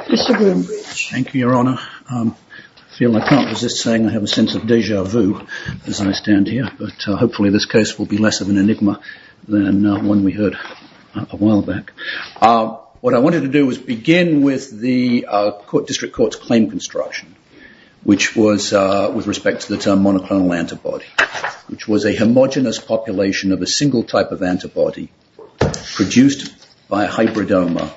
Mr. Bloombridge. Thank you, Your Honor. I'm pleased to be here today. I feel I can't resist saying I have a sense of deja vu as I stand here, but hopefully this case will be less of an enigma than one we heard a while back. What I wanted to do was begin with the District Court's claim construction, which was with respect to the term monoclonal antibody, which was a homogenous population of a single type of antibody produced by a hybridoma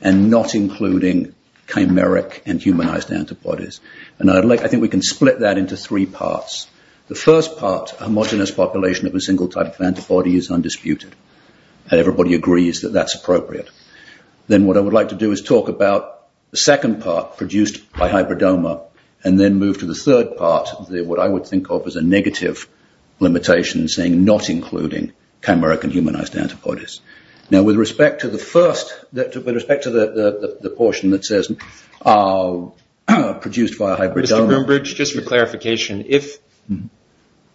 and not including chimeric and humanized antibodies. I think we can split that into three parts. The first part, a homogenous population of a single type of antibody is undisputed. Everybody agrees that that's appropriate. Then what I would like to do is talk about the second part produced by hybridoma and then move to the third part, what I would think of as a negative limitation saying not including chimeric and humanized antibodies. Now, with respect to the first, with respect to the portion that says produced by a hybridoma... Mr. Bloombridge, just for clarification,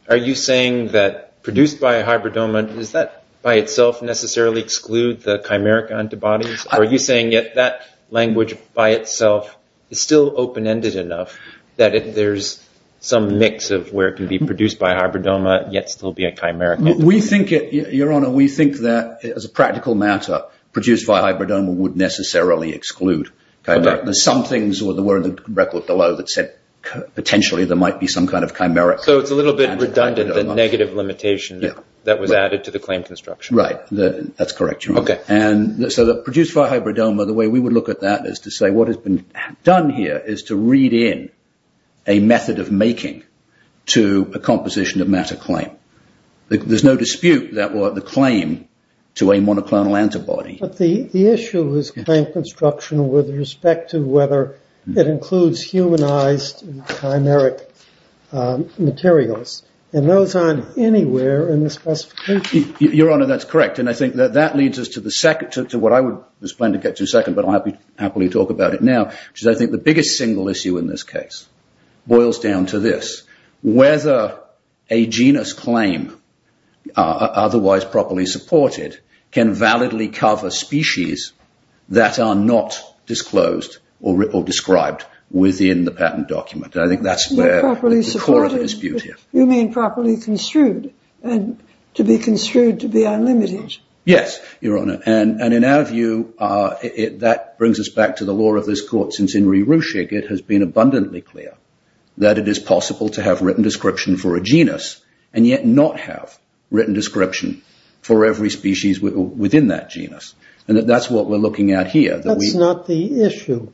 are you saying that produced by a hybridoma, does that by itself necessarily exclude the chimeric antibodies? Are you saying that that language by itself is still open-ended enough that there's some mix of where it can be produced by a hybridoma yet still be a chimeric? We think, Your Honor, we think that as a practical matter, produced by a hybridoma would necessarily exclude chimeric. There's some things that were in the record below that said potentially there might be some kind of chimeric... So it's a little bit redundant, the negative limitation that was added to the claim construction. Right. That's correct, Your Honor. So produced by a hybridoma, the way we would look at that is to say what has been done here is to read in a method of making to a composition of matter claim. There's no dispute that the claim to a monoclonal antibody... But the issue is claim construction with respect to whether it includes humanized chimeric materials, and those aren't anywhere in the specification. Your Honor, that's correct, and I think that that leads us to what I was planning to get to in a second, but I'll happily talk about it now, which is I think the biggest single issue in this case boils down to this, whether a genus claim, otherwise properly supported, can validly cover species that are not disclosed or described within the patent document. And I think that's where the core of the dispute is. You mean properly construed, and to be construed to be unlimited. Yes, Your Honor, and in our view, that brings us back to the law of this court, since in abundantly clear that it is possible to have written description for a genus, and yet not have written description for every species within that genus. And that's what we're looking at here. That's not the issue.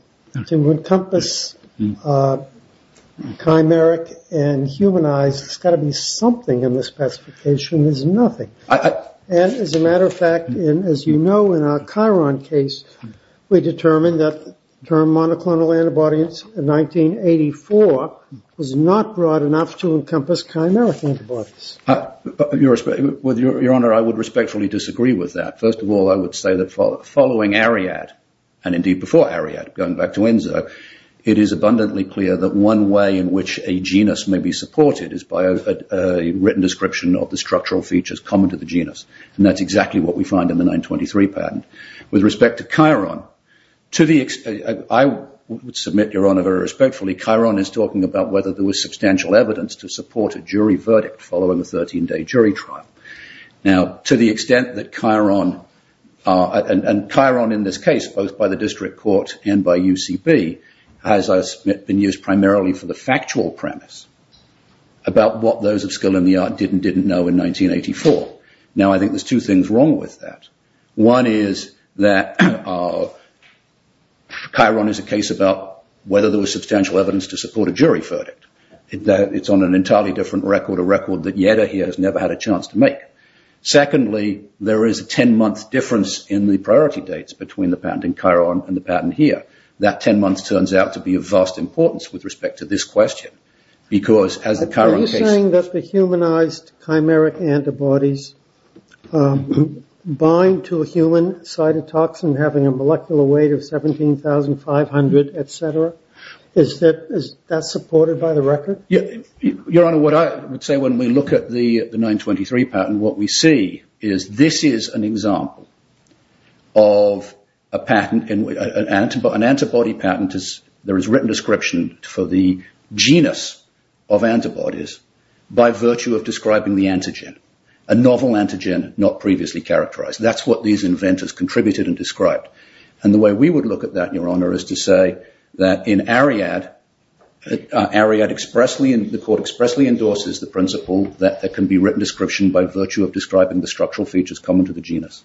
To encompass chimeric and humanized, there's got to be something in the specification. There's nothing. And as a matter of fact, as you know, in our Chiron case, we determined that the term monoclonal antibody in 1984 was not broad enough to encompass chimeric antibodies. Your Honor, I would respectfully disagree with that. First of all, I would say that following Ariadne, and indeed before Ariadne, going back to Enzo, it is abundantly clear that one way in which a genus may be supported is by a written description of the structural features common to the genus. And that's exactly what we find in the 923 patent. With respect to Chiron, I would submit, Your Honor, very respectfully, Chiron is talking about whether there was substantial evidence to support a jury verdict following a 13-day jury trial. Now, to the extent that Chiron, and Chiron in this case, both by the district court and by UCB, has been used primarily for the factual premise about what those of people in the art didn't know in 1984. Now, I think there's two things wrong with that. One is that Chiron is a case about whether there was substantial evidence to support a jury verdict. It's on an entirely different record, a record that Yeda here has never had a chance to make. Secondly, there is a 10-month difference in the priority dates between the patent in Chiron and the patent here. That 10 months turns out to be of vast importance with respect to this question, because as a Chiron case- Are you saying that the humanized chimeric antibodies bind to a human cytotoxin having a molecular weight of 17,500, et cetera? Is that supported by the record? Your Honor, what I would say when we look at the 923 patent, what we see is this is an example of an antibody patent. There is written description for the genus of antibodies by virtue of describing the antigen, a novel antigen not previously characterized. That's what these inventors contributed and described. The way we would look at that, Your Honor, is to say that in Ariad, the court expressly endorses the principle that there can be written description by virtue of describing the structural features common to the genus.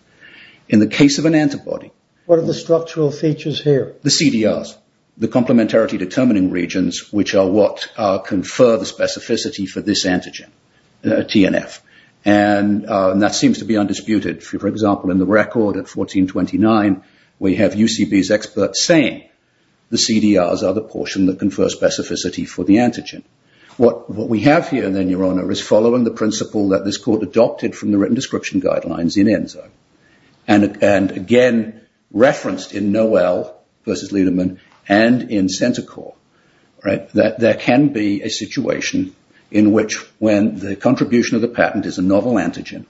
In the case of an antibody- What are the structural features here? The CDRs, the complementarity determining regions, which are what confer the specificity for this antigen, TNF. That seems to be undisputed. For example, in the record at 1429, we have UCB's experts saying the CDRs are the portion that confer specificity for the antigen. What we have here then, Your Honor, is following the principle that this court adopted from the written description guidelines in ENSO. Again, referenced in Noel versus Liedemann and in Centacor, that there can be a situation in which when the contribution of the patent is a novel antigen,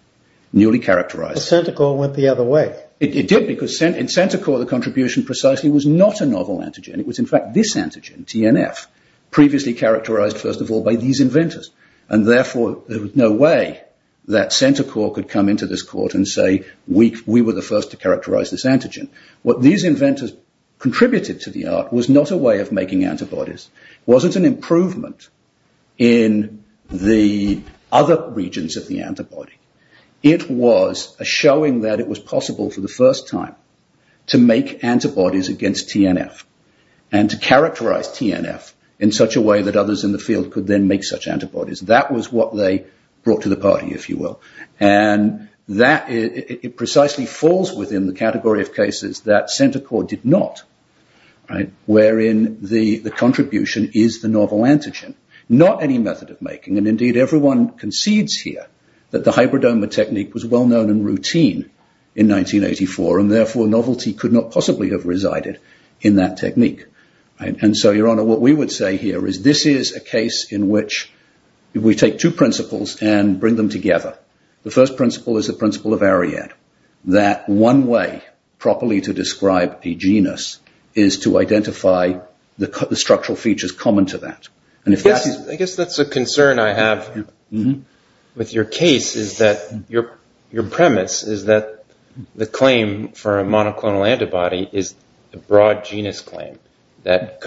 newly characterized- But Centacor went the other way. It did because in Centacor, the contribution precisely was not a novel antigen. It was in fact this antigen, TNF, previously characterized, first of all, by these inventors and therefore there was no way that Centacor could come into this court and say, we were the first to characterize this antigen. What these inventors contributed to the art was not a way of making antibodies. It wasn't an improvement in the other regions of the antibody. It was a showing that it was possible for the first time to make antibodies against TNF and to characterize TNF in such a way that others in the field could then make such antibodies. That was what they brought to the party, if you will. It precisely falls within the category of cases that Centacor did not, wherein the contribution is the novel antigen, not any method of making. Indeed, everyone concedes here that the hybridoma technique was well-known and routine in 1984 and therefore novelty could not possibly have resided in that technique. Your Honor, what we would say here is this is a case in which we take two principles and bring them together. The first principle is the principle of Ariadne, that one way properly to describe a genus is to identify the structural features common to that. I guess that's a concern I have with your case is that your premise is that the claim for a monoclonal antibody is a broad genus claim that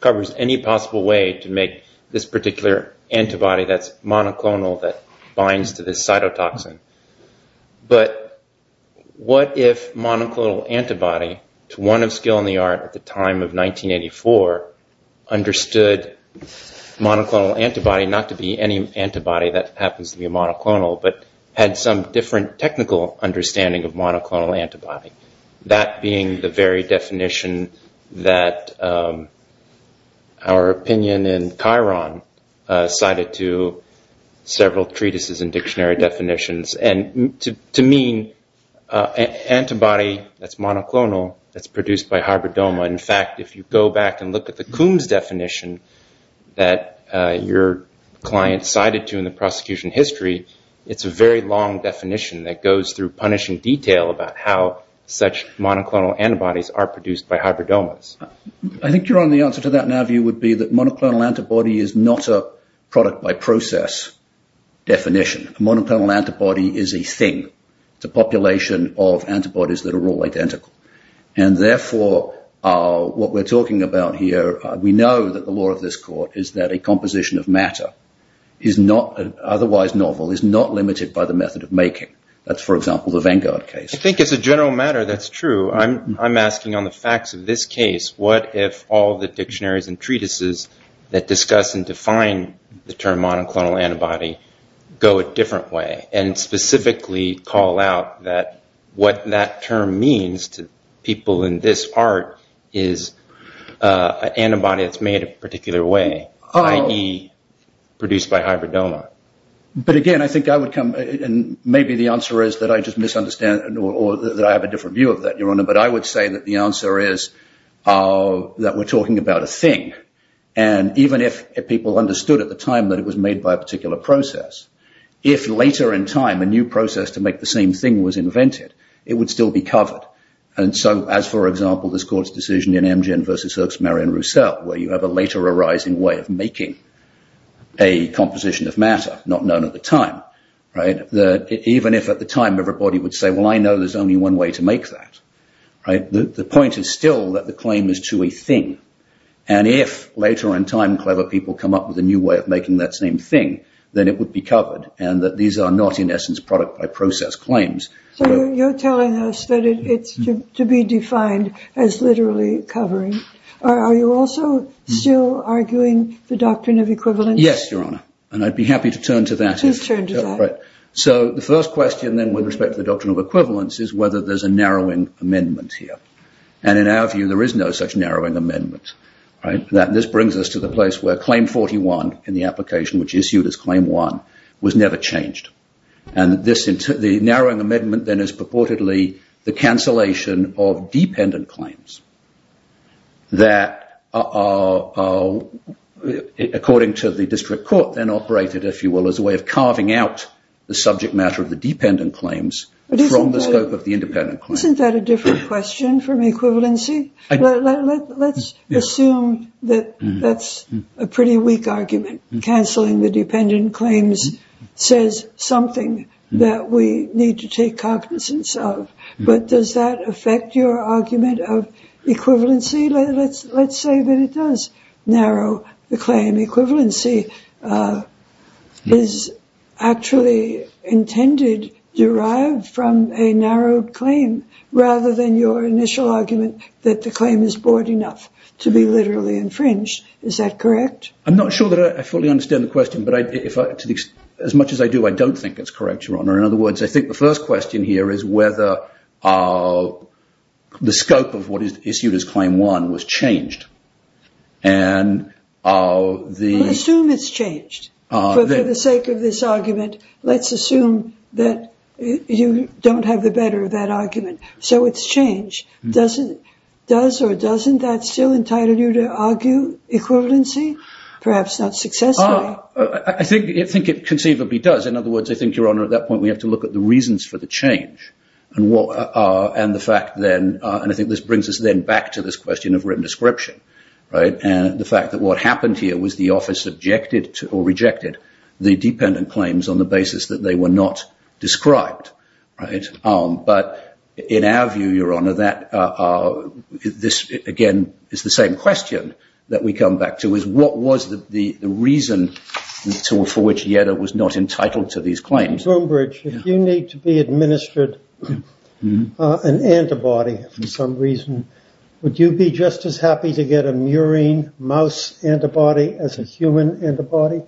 covers any possible way to make this particular antibody that's monoclonal that binds to this cytotoxin. But what if monoclonal antibody, not to be any antibody that happens to be monoclonal, but had some different technical understanding of monoclonal antibody? That being the very definition that our opinion in Chiron cited to several treatises and dictionary definitions. To me, antibody that's monoclonal, that's produced by hybridoma, in fact, if you go back and look at the Coombs definition that your client cited to in the prosecution history, it's a very long definition that goes through punishing detail about how such monoclonal antibodies are produced by hybridomas. I think your Honor, the answer to that now view would be that monoclonal antibody is not a product by process definition. Monoclonal antibody is a thing. It's a population of antibodies that are all identical. And therefore, what we're talking about here, we know that the law of this court is that a composition of matter is not otherwise novel, is not limited by the method of making. That's, for example, the Vanguard case. I think as a general matter that's true. I'm asking on the facts of this case, what if all the dictionaries and treatises that discuss and define the term monoclonal antibody go a different way and specifically call out that what that term means to people in this part is an antibody that's made a particular way, i.e., produced by hybridoma? But again, I think I would come, and maybe the answer is that I just misunderstand or that I have a different view of that, Your Honor, but I would say that the answer is that we're talking about a thing. And even if people understood at the time that it was made by a particular process, if later in time a new process to make the same thing was invented, it would still be covered. And so, as, for example, this court's decision in Mgen v. Erck's Marion Roussel, where you have a later arising way of making a composition of matter not known at the time, right, even if at the time everybody would say, well, I know there's only one way to make that, right, the point is still that the claim is to a thing. And if later in time clever people come up with a new way of making that same thing, then it would be covered, and that these are not, in essence, product-by-process claims. So you're telling us that it's to be defined as literally covering. Are you also still arguing the doctrine of equivalence? Yes, Your Honor, and I'd be happy to turn to that if... Please turn to that. Right. So the first question, then, with respect to the doctrine of equivalence is whether there's a narrowing amendment here. And in our view, there is no such narrowing amendment, right? This brings us to the place where Claim 41 in the application, which issued as Claim 1, was never changed. And the narrowing amendment, then, is purportedly the cancellation of dependent claims that are, according to the district court, then operated, if you will, as a way of carving out the subject matter of the dependent claims from the scope of the independent claims. Isn't that a different question from equivalency? Let's assume that that's a pretty weak argument. Canceling the dependent claims says something that we need to take cognizance of. But does that affect your argument of equivalency? Let's say that it does narrow the claim. Equivalency is actually intended derived from a narrowed claim, rather than your initial argument that the claim is broad enough to be literally infringed. Is that correct? I'm not sure that I fully understand the question. But as much as I do, I don't think it's correct, Your Honor. In other words, I think the first question here is whether the scope of what For the sake of this argument, let's assume that you don't have the better of that argument. So it's changed. Does or doesn't that still entitle you to argue equivalency? Perhaps not successfully. I think it conceivably does. In other words, I think, Your Honor, at that point, we have to look at the reasons for the change. And I think this brings us then back to this question of written description. And the fact that what happened here was the office rejected the dependent claims on the basis that they were not described. But in our view, Your Honor, this, again, is the same question that we come back to, is what was the reason for which Yetta was not entitled to these claims? Mr. Brombridge, if you need to be administered an antibody for some reason, would you be just as happy to get a murine mouse antibody as a human antibody?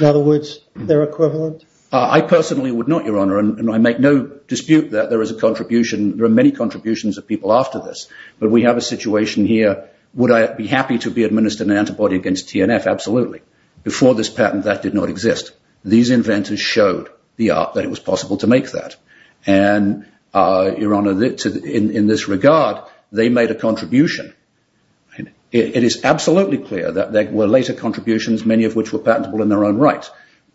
In other words, they're equivalent? I personally would not, Your Honor. And I make no dispute that there is a contribution. There are many contributions of people after this. But we have a situation here. Would I be happy to be administered an antibody against TNF? Absolutely. Before this patent, that did not exist. These inventors showed the art that it was possible to make that. And Your Honor, in this regard, they made a contribution. It is absolutely clear that there were later contributions, many of which were patentable in their own right.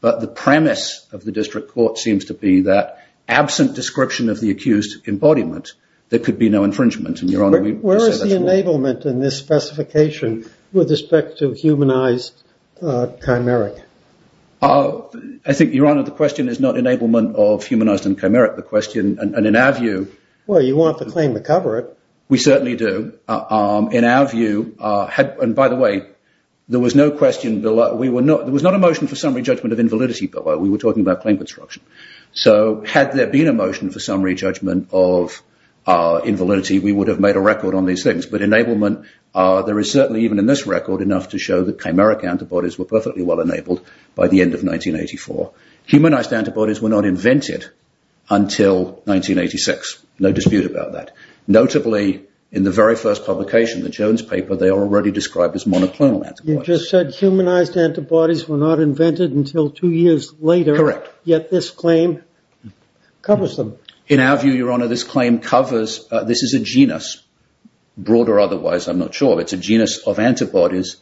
But the premise of the district court seems to be that absent description of the accused embodiment, there could be no infringement. And Your Honor, we say that's wrong. this specification with respect to humanized chimeric? I think, Your Honor, the question is not enablement of humanized and chimeric. The question, and in our view, Well, you want the claim to cover it. We certainly do. In our view, and by the way, there was no question below. There was not a motion for summary judgment of invalidity below. We were talking about claim construction. So had there been a motion for summary judgment of invalidity, we would have made a record on these things. But enablement, there is certainly even in this record enough to show that chimeric antibodies were perfectly well enabled by the end of 1984. Humanized antibodies were not invented until 1986. No dispute about that. Notably, in the very first publication, the Jones paper, they are already described as monoclonal antibodies. You just said humanized antibodies were not invented until two years later. Correct. Yet this claim covers them. In our view, Your Honor, this claim covers, this is a genus, broad or otherwise, I'm not sure. It's a genus of antibodies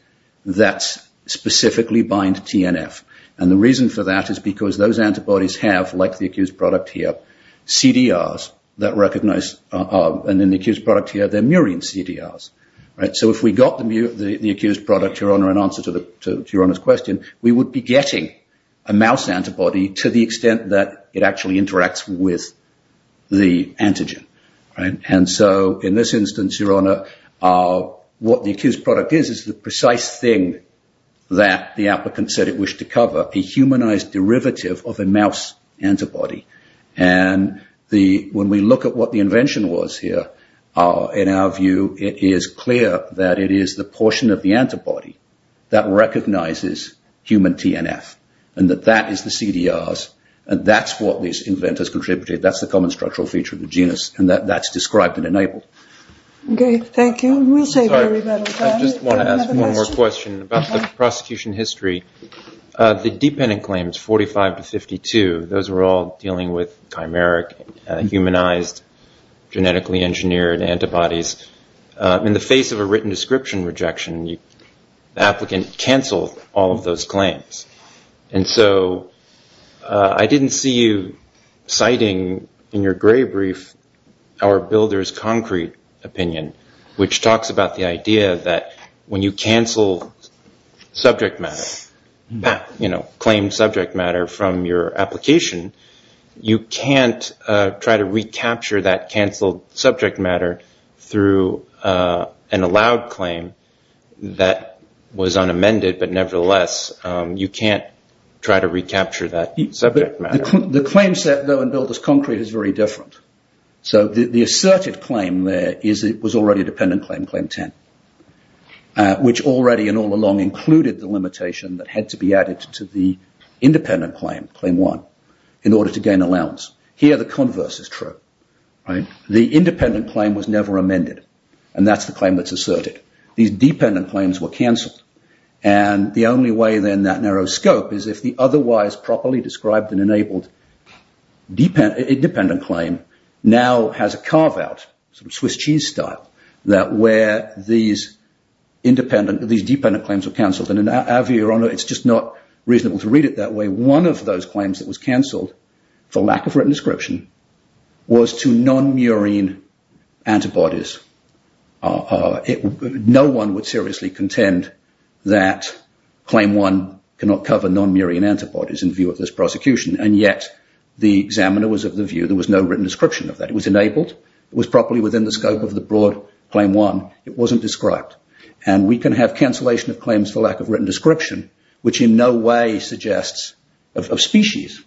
that specifically bind TNF. And the reason for that is because those antibodies have, like the accused product here, CDRs that recognize, and in the accused product here, they're murine CDRs. So if we got the accused product, Your Honor, in answer to Your Honor's question, we would be getting a mouse antibody to the extent that it actually interacts with the antigen. And so in this instance, Your Honor, what the accused product is is the precise thing that the applicant said it wished to cover, a humanized derivative of a mouse antibody. And when we look at what the invention was here, in our view, it is clear that it is the portion of the antibody that recognizes human TNF and that that is the CDRs. And that's what these inventors contributed. That's the common structural feature of the genus. And that's described and enabled. Okay. Thank you. We'll save everybody time. I just want to ask one more question about the prosecution history. The dependent claims, 45 to 52, those were all dealing with chimeric, humanized, genetically engineered antibodies. In the face of a written description rejection, the applicant canceled all of those claims. And so I didn't see you citing in your gray brief our builder's concrete opinion, which talks about the idea that when you cancel subject matter, you know, claim subject matter from your application, you can't try to recapture that canceled subject matter through an allowed claim that was unamended, but nevertheless, you can't try to recapture that subject matter. The claim set, though, in builder's concrete is very different. So the asserted claim there is it was already a dependent claim, claim 10, which already and all along included the limitation that had to be added to the independent claim, claim 1, in order to gain allowance. Here the converse is true, right? The independent claim was never amended. And that's the claim that's asserted. These dependent claims were canceled. And the only way then that narrow scope is if the otherwise properly described and enabled independent claim now has a carve out, sort of Swiss cheese style, that where these independent, these dependent claims were canceled. And in our view, Your Honor, it's just not reasonable to read it that way. One of those claims that was canceled for lack of written description was to non-murine antibodies. No one would seriously contend that claim 1 cannot cover non-murine antibodies in view of this prosecution. And yet, the examiner was of the view there was no written description of that. It was enabled. It was properly within the scope of the broad claim 1. It wasn't described. And we can have cancellation of claims for lack of written description, which in no way suggests of species,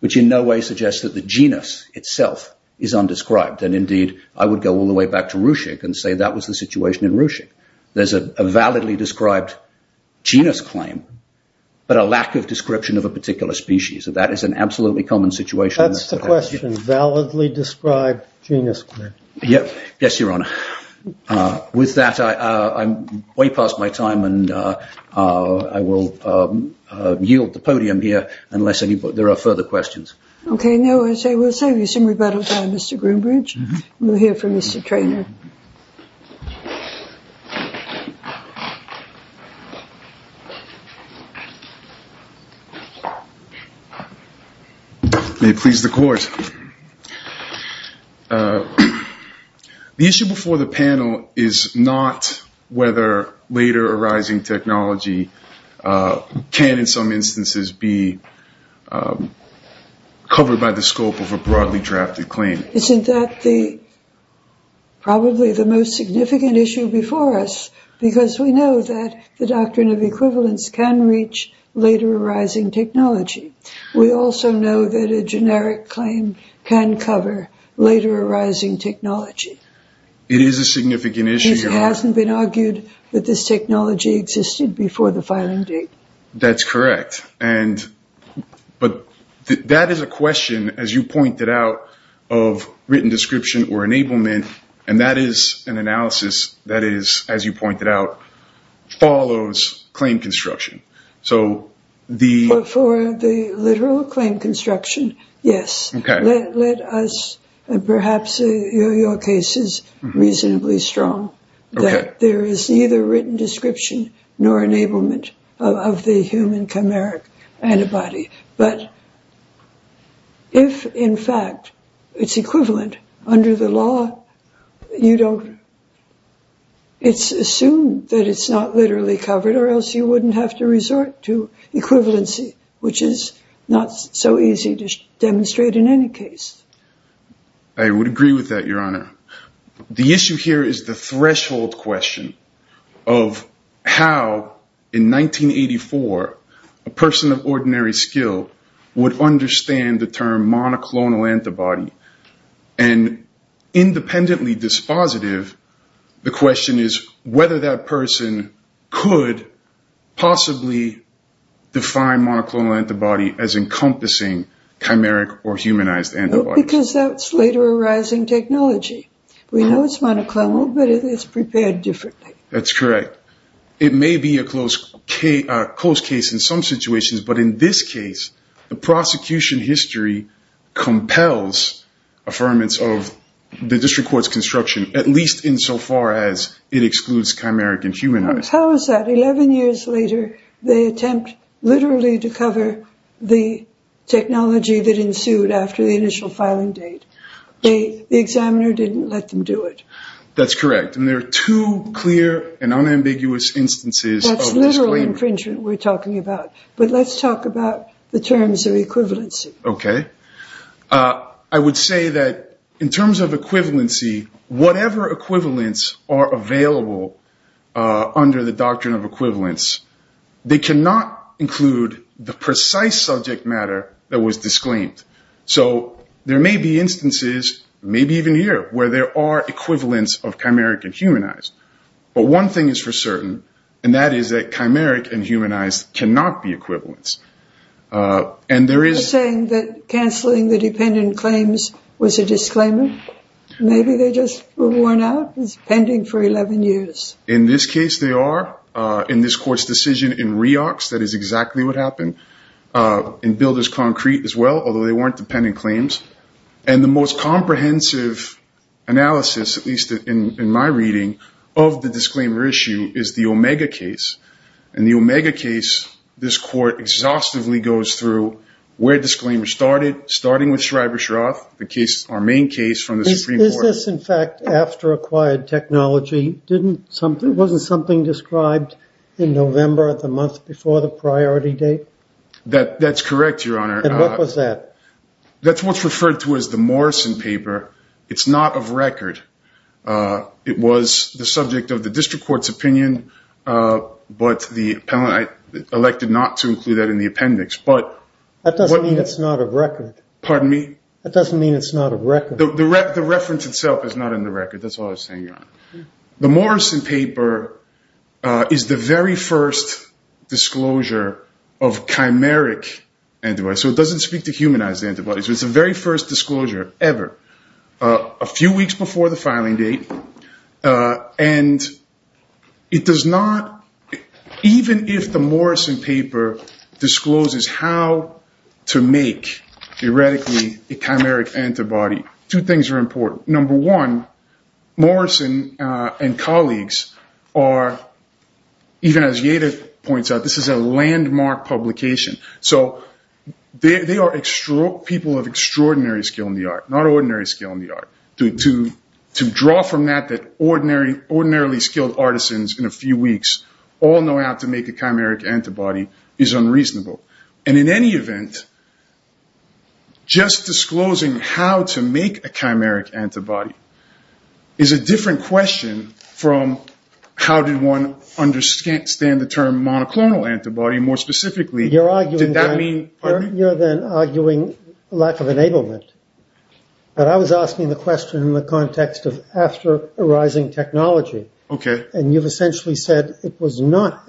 which in no way suggests that the genus itself is a genus. We can go all the way back to Ruchik and say that was the situation in Ruchik. There's a validly described genus claim, but a lack of description of a particular species. So that is an absolutely common situation. That's the question. Validly described genus claim. Yes, Your Honor. With that, I'm way past my time and I will yield the podium here unless there are further questions. Okay. Now, as I was saying, we assume we've covered most of the questions. Mr. Treanor. May it please the Court. The issue before the panel is not whether later arising technology can, in some instances, be covered by the doctrine of equivalence. Probably the most significant issue before us, because we know that the doctrine of equivalence can reach later arising technology. We also know that a generic claim can cover later arising technology. It is a significant issue. It hasn't been argued that this technology existed before the filing date. That's correct. But that is a question, as you pointed out, of written description or enablement and that is an analysis that is, as you pointed out, follows claim construction. So the... For the literal claim construction, yes. Okay. Let us, perhaps your case is reasonably strong that there is neither written description nor enablement of the human chimeric antibody. But if, in fact, it's equivalent under the law, you don't... It's assumed that it's not literally covered or else you wouldn't have to resort to equivalency, which is not so easy to demonstrate in any case. I would agree with that, Your Honor. The issue here is the threshold question of how, in 1984, a person of ordinary skill would understand the term monoclonal antibody. Independently dispositive, the question is whether that person could possibly define monoclonal antibody as encompassing chimeric or humanized antibodies. Because that's later arising technology. We know it's monoclonal, but it's prepared differently. That's correct. It may be a close case in some situations, but in this case, the prosecution history compels affirmance of the district court's construction, at least insofar as it excludes chimeric and humanized. How is that? Eleven years later, they attempt literally to cover the technology that ensued after the initial filing date. The examiner didn't let them do it. That's correct. And there are two clear and unambiguous instances of this claim. That's literal infringement we're talking about. But let's talk about the terms of equivalency. Okay. I would say that in terms of equivalency, whatever equivalents are available under the doctrine of equivalence, they cannot include the precise subject matter that was disclaimed. So there may be instances, maybe even here, where there are equivalents of chimeric and humanized. But one thing is for certain, and that is that chimeric and humanized cannot be equivalents. You're saying that canceling the dependent claims was a disclaimer? Maybe they just were worn out? It's pending for 11 years. In this case, they are. In this court's decision in REOCS, that is exactly what happened. In Builder's Concrete as well, although they weren't dependent claims. And the most comprehensive analysis, at least in my reading, of the disclaimer issue is the Omega case. In the Omega case, this court exhaustively goes through where disclaimer started, starting with Schreiber-Shroff, our main case from the Supreme Court. Is this in fact after acquired technology? Wasn't something described in November of the month before the priority date? That's correct, Your Honor. And what was that? That's what's referred to as the Morrison paper. It's not of record. It was the subject of the district court's opinion, but the appellant elected not to include that in the appendix. That doesn't mean it's not of record. Pardon me? That doesn't mean it's not of record. The reference itself is not in the record. That's all I was saying, Your Honor. The Morrison paper is the very first disclosure of chimeric antibodies. So it doesn't speak to humanized antibodies. It's the very first disclosure ever, a few weeks before the filing date. And it does not, even if the Morrison paper discloses how to make, theoretically, a chimeric antibody, two things are important. Number one, Morrison and colleagues are, even as Yada points out, this is a landmark publication. So they are people of extraordinary skill in the art, not ordinary skill in the art. To draw from that that ordinarily skilled artisans in a few weeks all know how to make a chimeric antibody is unreasonable. And in any event, just disclosing how to make a chimeric antibody is a different question from how did one understand the term monoclonal antibody, more specifically, did that mean... But I was asking the question in the context of after arising technology. Okay. And you've essentially said it was not,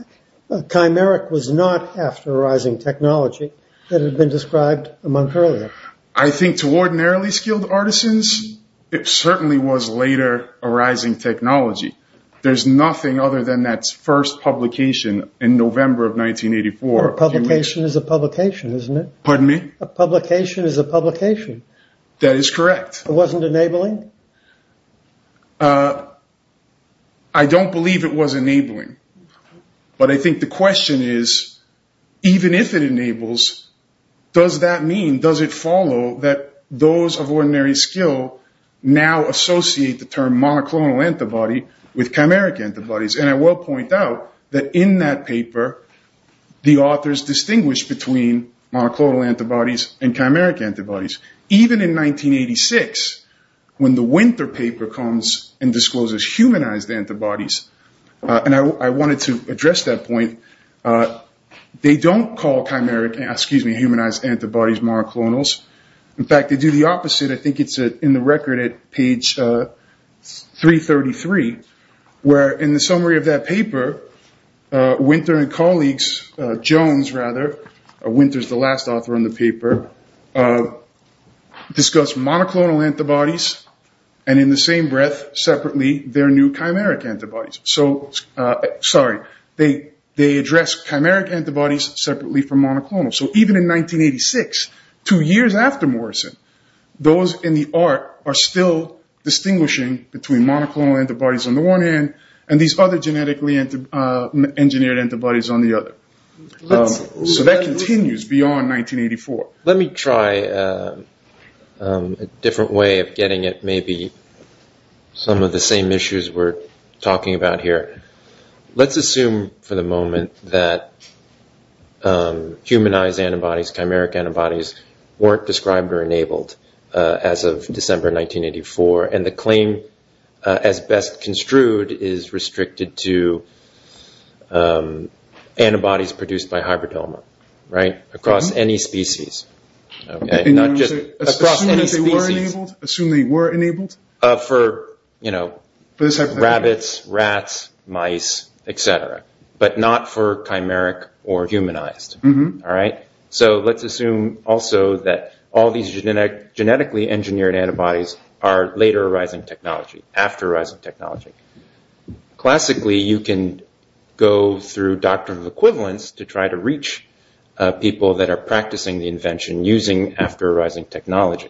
chimeric was not after arising technology that had been described a month earlier. I think to ordinarily skilled artisans, it certainly was later arising technology. There's nothing other than that first publication in November of 1984. A publication is a publication, isn't it? Pardon me? A publication is a publication. That is correct. It wasn't enabling? I don't believe it was enabling. But I think the question is, even if it enables, does that mean, does it follow that those of ordinary skill now associate the term monoclonal antibody with chimeric antibodies? And I will point out that in that paper, the authors distinguish between monoclonal antibodies and chimeric antibodies. Even in 1986, when the Winter paper comes and discloses humanized antibodies, and I wanted to address that point, they don't call humanized antibodies monoclonals. In fact, they do the opposite. I think it's in the record at page 333, where in the summary of that paper, Winter and colleagues, Jones rather, Winter's the last author on the paper, discuss monoclonal antibodies and in the same breath, separately, their new chimeric antibodies. Sorry, they address chimeric antibodies separately from monoclonal. So even in 1986, two years after Morrison, those in the art are still distinguishing between monoclonal antibodies on the one hand and these other genetically engineered antibodies on the other. So that continues beyond 1984. Let me try a different way of getting at maybe some of the same issues we're talking about here. Let's assume for the moment that humanized antibodies, chimeric antibodies, weren't described or enabled as of December 1984, and the claim as best construed is restricted to antibodies produced by hybridoma, right? Across any species. Assume they were enabled? For rabbits, rats, mice, etc., but not for chimeric or humanized. So let's assume also that all these genetically engineered antibodies are later arising technology, after arising technology. Classically, you can go through doctrines of equivalence to try to reach people that are practicing the invention using after arising technology.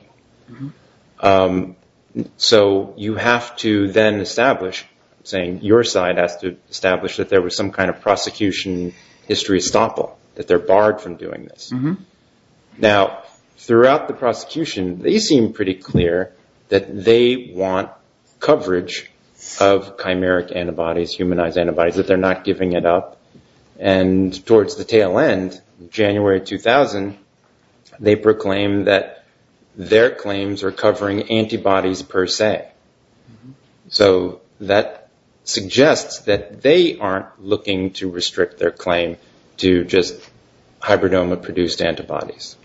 So you have to then establish, saying your side has to establish that there was some kind of prosecution history estoppel, that they're barred from doing this. Now, throughout the prosecution, they seem pretty clear that they want coverage of chimeric antibodies, humanized antibodies, that they're not giving it up. And towards the tail end, January 2000, they said their claims are covering antibodies per se. So that suggests that they aren't looking to restrict their claim to just hybridoma produced antibodies.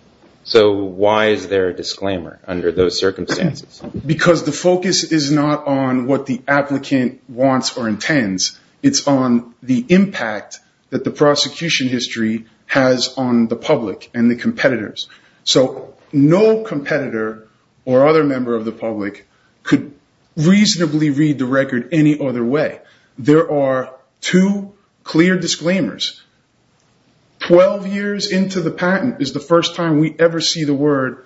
So why is there a disclaimer under those circumstances? Because the focus is not on what the applicant wants or intends. It's on the impact that the prosecution history has on the public and the competitors. So no competitor or other member of the public could reasonably read the record any other way. There are two clear disclaimers. 12 years into the patent is the first time we ever see the word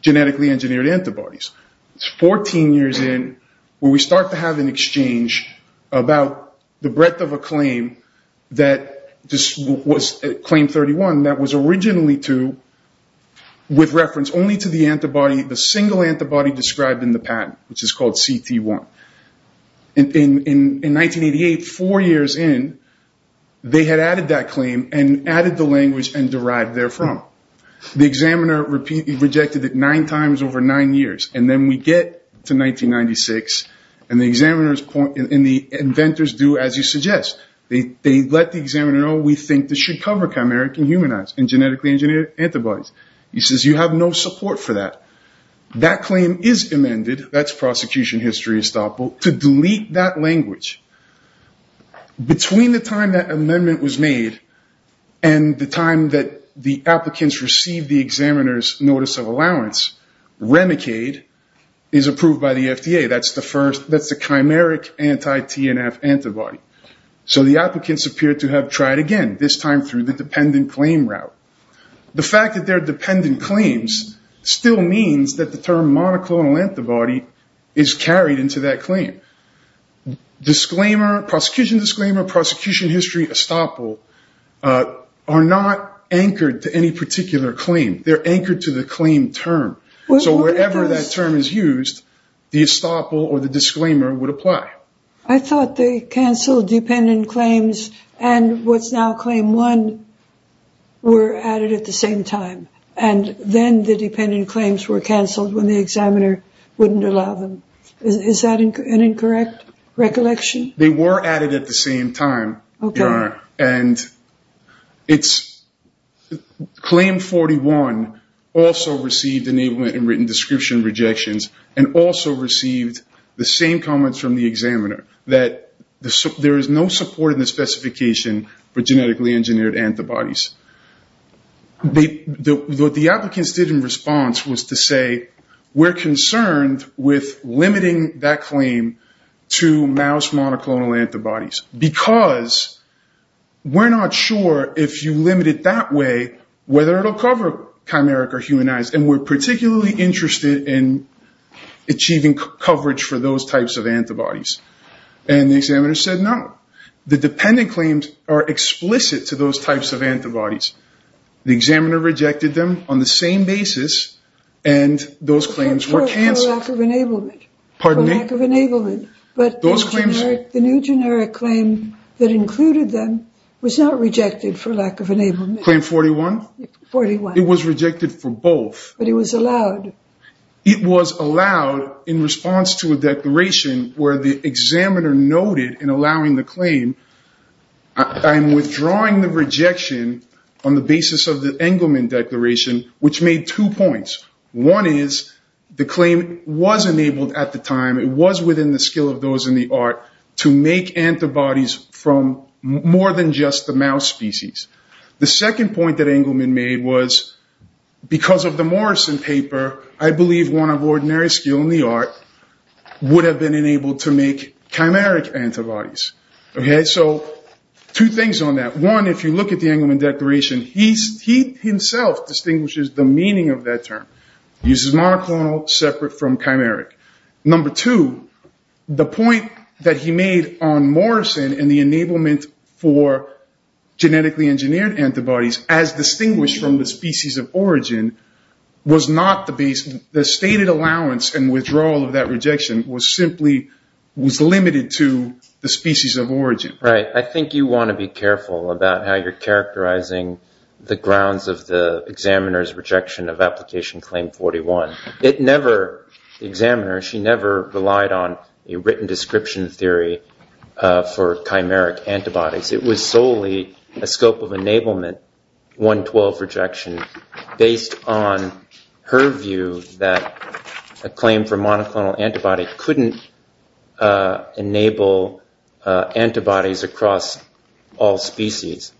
genetically engineered antibodies. It's 14 years in where we start to have an exchange about the breadth of a claim that was Claim 31 that was originally to the patent for, with reference only to the antibody, the single antibody described in the patent, which is called CT1. In 1988, four years in, they had added that claim and added the language and derived therefrom. The examiner repeatedly rejected it nine times over nine years. And then we get to 1996, and the inventors do as you suggest. They let the examiner know, we think this should cover chimeric and humanized and genetically engineered antibodies. He says, you have no support for that. That claim is amended, that's prosecution history estoppel, to delete that language. Between the time that amendment was made and the time that the applicants received the examiner's notice of allowance, Remicade is approved by the FDA. That's the first, that's the chimeric anti-TNF antibody. So the applicants appear to have tried again, this time through the dependent claim route. The fact that they're dependent claims still means that the term monoclonal antibody is carried into that claim. Disclaimer, prosecution disclaimer, prosecution history estoppel, are not anchored to any particular claim. They're anchored to the claim term. So wherever that term is used, the estoppel or the disclaimer would apply. I thought they canceled dependent claims and what's now claim one were added at the same time. And then the dependent claims were canceled when the examiner wouldn't allow them. Is that an incorrect recollection? They were added at the same time. Okay. And it's claim 41 also received enablement and written description rejections, and also received the same comments from the examiner, that there is no support in the specification for genetically engineered antibodies. What the applicants did in response was to say we're concerned with limiting that claim to mouse monoclonal antibodies, because we're not sure if you limit it that way, whether it'll cover chimeric or humanized, and we're looking for coverage for those types of antibodies. And the examiner said, no, the dependent claims are explicit to those types of antibodies. The examiner rejected them on the same basis, and those claims were canceled. For lack of enablement, but the new generic claim that included them was not rejected for lack of enablement. Claim 41? 41. It was rejected for both. But it was allowed. It was allowed in response to a declaration where the examiner noted in allowing the claim, I'm withdrawing the rejection on the basis of the Engelman declaration, which made two points. One is the claim was enabled at the time. It was within the skill of those in the art to make antibodies from more than just the mouse species. The second point that Engelman made was because of the Morrison paper, I believe one of ordinary skill in the art would have been enabled to make chimeric antibodies. So two things on that. One, if you look at the Engelman declaration, he himself distinguishes the meaning of that term. He uses monoclonal separate from chimeric. Number two, the point that he made on Morrison and the enablement for genetically engineered antibodies as distinguished from the species of origin was not the basis. The stated allowance and withdrawal of that rejection was simply, was limited to the species of origin. Right. I think you want to be careful about how you're characterizing the grounds of the paper. The examiner, she never relied on a written description theory for chimeric antibodies. It was solely a scope of enablement, 112 rejection, based on her view that a claim for monoclonal antibody couldn't enable antibodies across all species.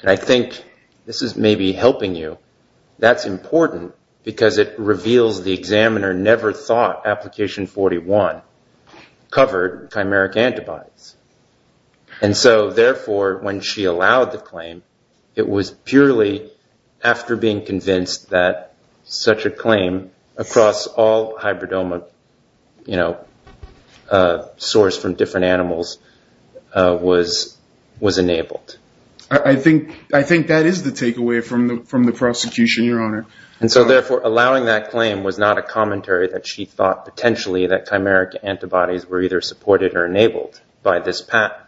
And I think this is maybe helping you. That's important because it reveals the examiner never thought application 41 covered chimeric antibodies. And so therefore, when she allowed the claim, it was purely after being convinced that such a claim across all hybridoma, you know, was enabled. I think that is the takeaway from the prosecution, Your Honor. And so therefore, allowing that claim was not a commentary that she thought potentially that chimeric antibodies were either supported or enabled by this patent.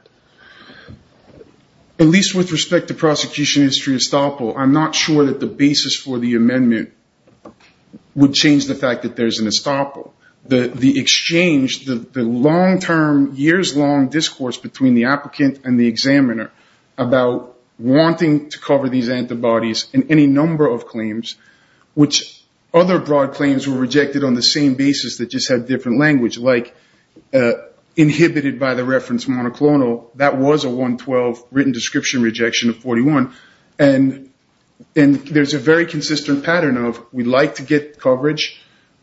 At least with respect to prosecution history estoppel, I'm not sure that the basis for the amendment would change the fact that there's an estoppel. The exchange, the long-term, years-long discourse between the applicant and the examiner about wanting to cover these antibodies in any number of claims, which other broad claims were rejected on the same basis that just had different language, like inhibited by the reference monoclonal, that was a 112 written description rejection of 41. And there's a very consistent pattern of we'd like to get coverage,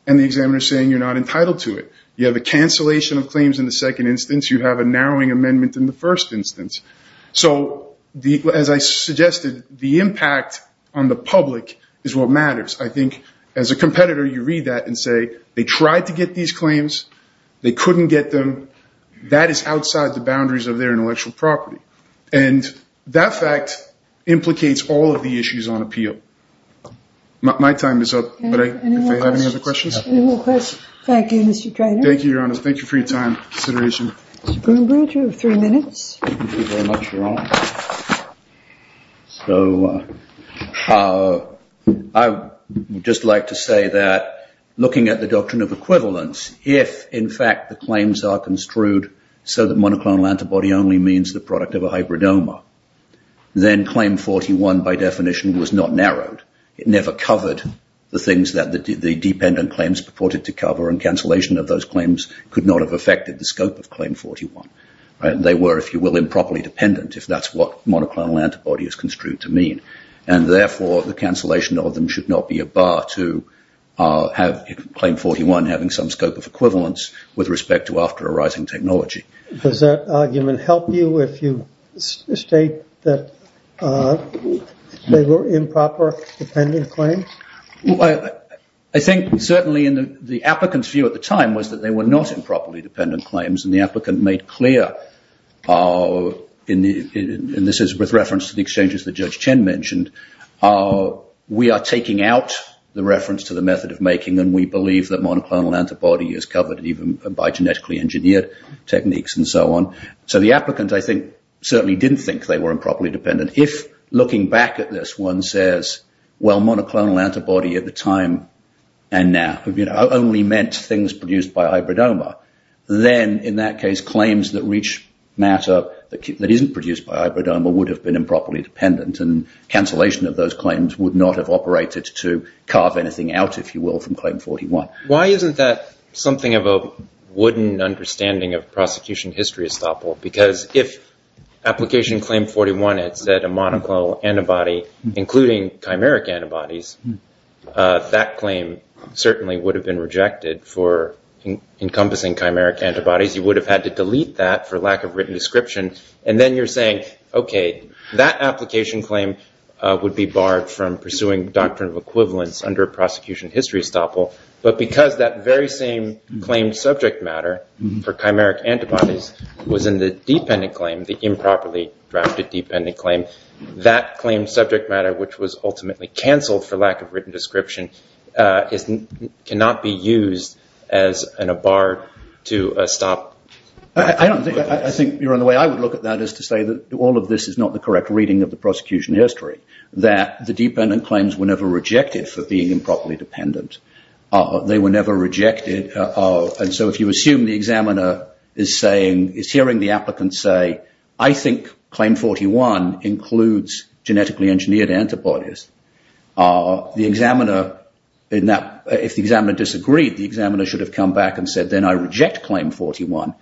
and the examiner's saying you're not entitled to it. You have a cancellation of claims in the second instance. You have a narrowing amendment in the first instance. So as I suggested, the impact on the public is what matters. I think as a competitor, you read that and say they tried to get these claims. They couldn't get them. That is outside the boundaries of their intellectual property. And that fact implicates all of the issues on appeal. My time is up, but if you have any other questions. Any more questions? Thank you, Mr. Treanor. Thank you, Your Honor. Thank you for your time and consideration. Mr. Broombridge, you have three minutes. Thank you very much, Your Honor. I would just like to say that looking at the doctrine of equivalence, if in fact the claims are construed so that monoclonal antibody only means the product of a hybridoma, then claim 41 by definition was not narrowed. It never covered the things that the dependent claims purported to cover, and cancellation of those claims could not have affected the scope of claim 41. They were, if you will, improperly dependent, if that's what monoclonal antibody is construed to mean. And therefore, the cancellation of them should not be a bar to claim 41 having some scope of equivalence with respect to after arising technology. Does that argument help you if you state that they were improper dependent claims? Well, I think certainly in the applicant's view at the time was that they were not improperly dependent claims, and the applicant made clear, and this is with reference to the exchanges that Judge Chen mentioned, we are taking out the reference to the method of making and we believe that monoclonal antibody is covered even by genetically engineered techniques and so on. So the applicant, I think, certainly didn't think they were improperly dependent. If looking back at this one says, well, monoclonal antibody at the time and now, you know, only meant things produced by ibridoma, then in that case, claims that reach matter that isn't produced by ibridoma would have been improperly dependent, and cancellation of those claims would not have operated to carve anything out, if you will, from claim 41. Why isn't that something of a wooden understanding of prosecution history, Estoppel? Because if application claim 41 had said a monoclonal antibody, including chimeric antibodies, that claim certainly would have been rejected for encompassing chimeric antibodies. You would have had to delete that for lack of written description, and then you're saying, okay, that application claim would be barred from pursuing doctrine of equivalence under prosecution history, Estoppel, but because that very same claim subject matter for chimeric antibodies was in the dependent claim, the improperly drafted dependent claim, that claim subject matter, which was ultimately canceled for lack of written description, cannot be used as a bar to stop. I think you're on the way I would look at that is to say that all of this is not the correct reading of the prosecution history, that the dependent claims were never rejected for being improperly dependent. They were being, is hearing the applicant say, I think claim 41 includes genetically engineered antibodies. The examiner, if the examiner disagreed, the examiner should have come back and said, then I reject claim 41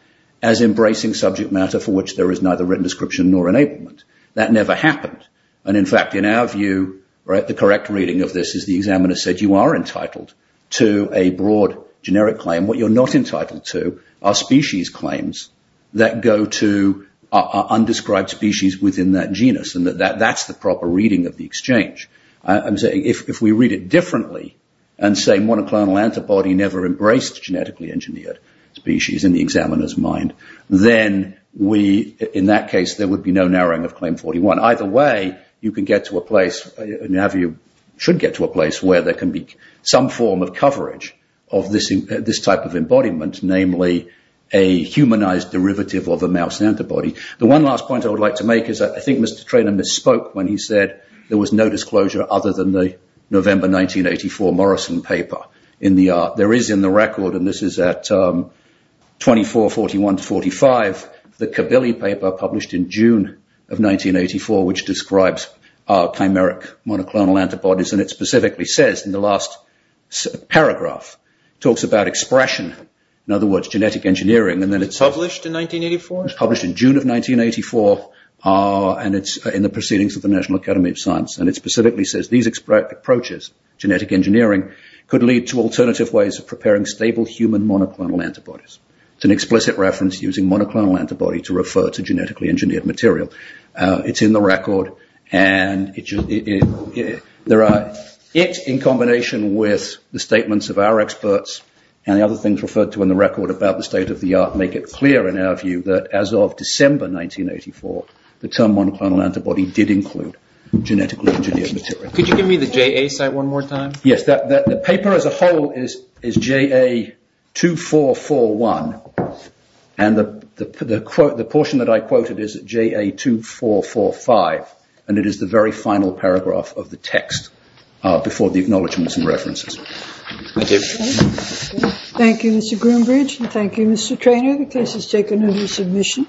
as embracing subject matter for which there is neither written description nor enablement. That never happened, and in fact, in our view, the correct reading of this is the examiner said, you are entitled to a broad generic claim. What you're not entitled to are general claims that go to undescribed species within that genus, and that's the proper reading of the exchange. I'm saying if we read it differently and say monoclonal antibody never embraced genetically engineered species in the examiner's mind, then we, in that case, there would be no narrowing of claim 41. Either way, you can get to a place, in our view, should get to a place where there can be some form of coverage of this type of embodiment, namely a humanized derivative of a mouse antibody. The one last point I would like to make is that I think Mr. Treanor misspoke when he said there was no disclosure other than the November 1984 Morrison paper. There is in the record, and this is at 2441 to 45, the Kabili paper published in June of 1984, which talks about expression, in other words, genetic engineering, and then it's published in June of 1984, and it's in the Proceedings of the National Academy of Science, and it specifically says these approaches, genetic engineering, could lead to alternative ways of preparing stable human monoclonal antibodies. It's an explicit reference using monoclonal antibody to refer to genetically engineered material. It's in the record, and it's in combination with the statements of our experts and other things referred to in the record about the state of the art make it clear, in our view, that as of December 1984, the term monoclonal antibody did include genetically engineered material. Could you give me the JA site one more time? Yes. The paper as a whole is JA2441, and the portion that I quoted is JA2445, and it is the very final paragraph of the text before the acknowledgments and references. Thank you, Mr. Groombridge, and thank you, Mr. Treanor. The case is taken into submission.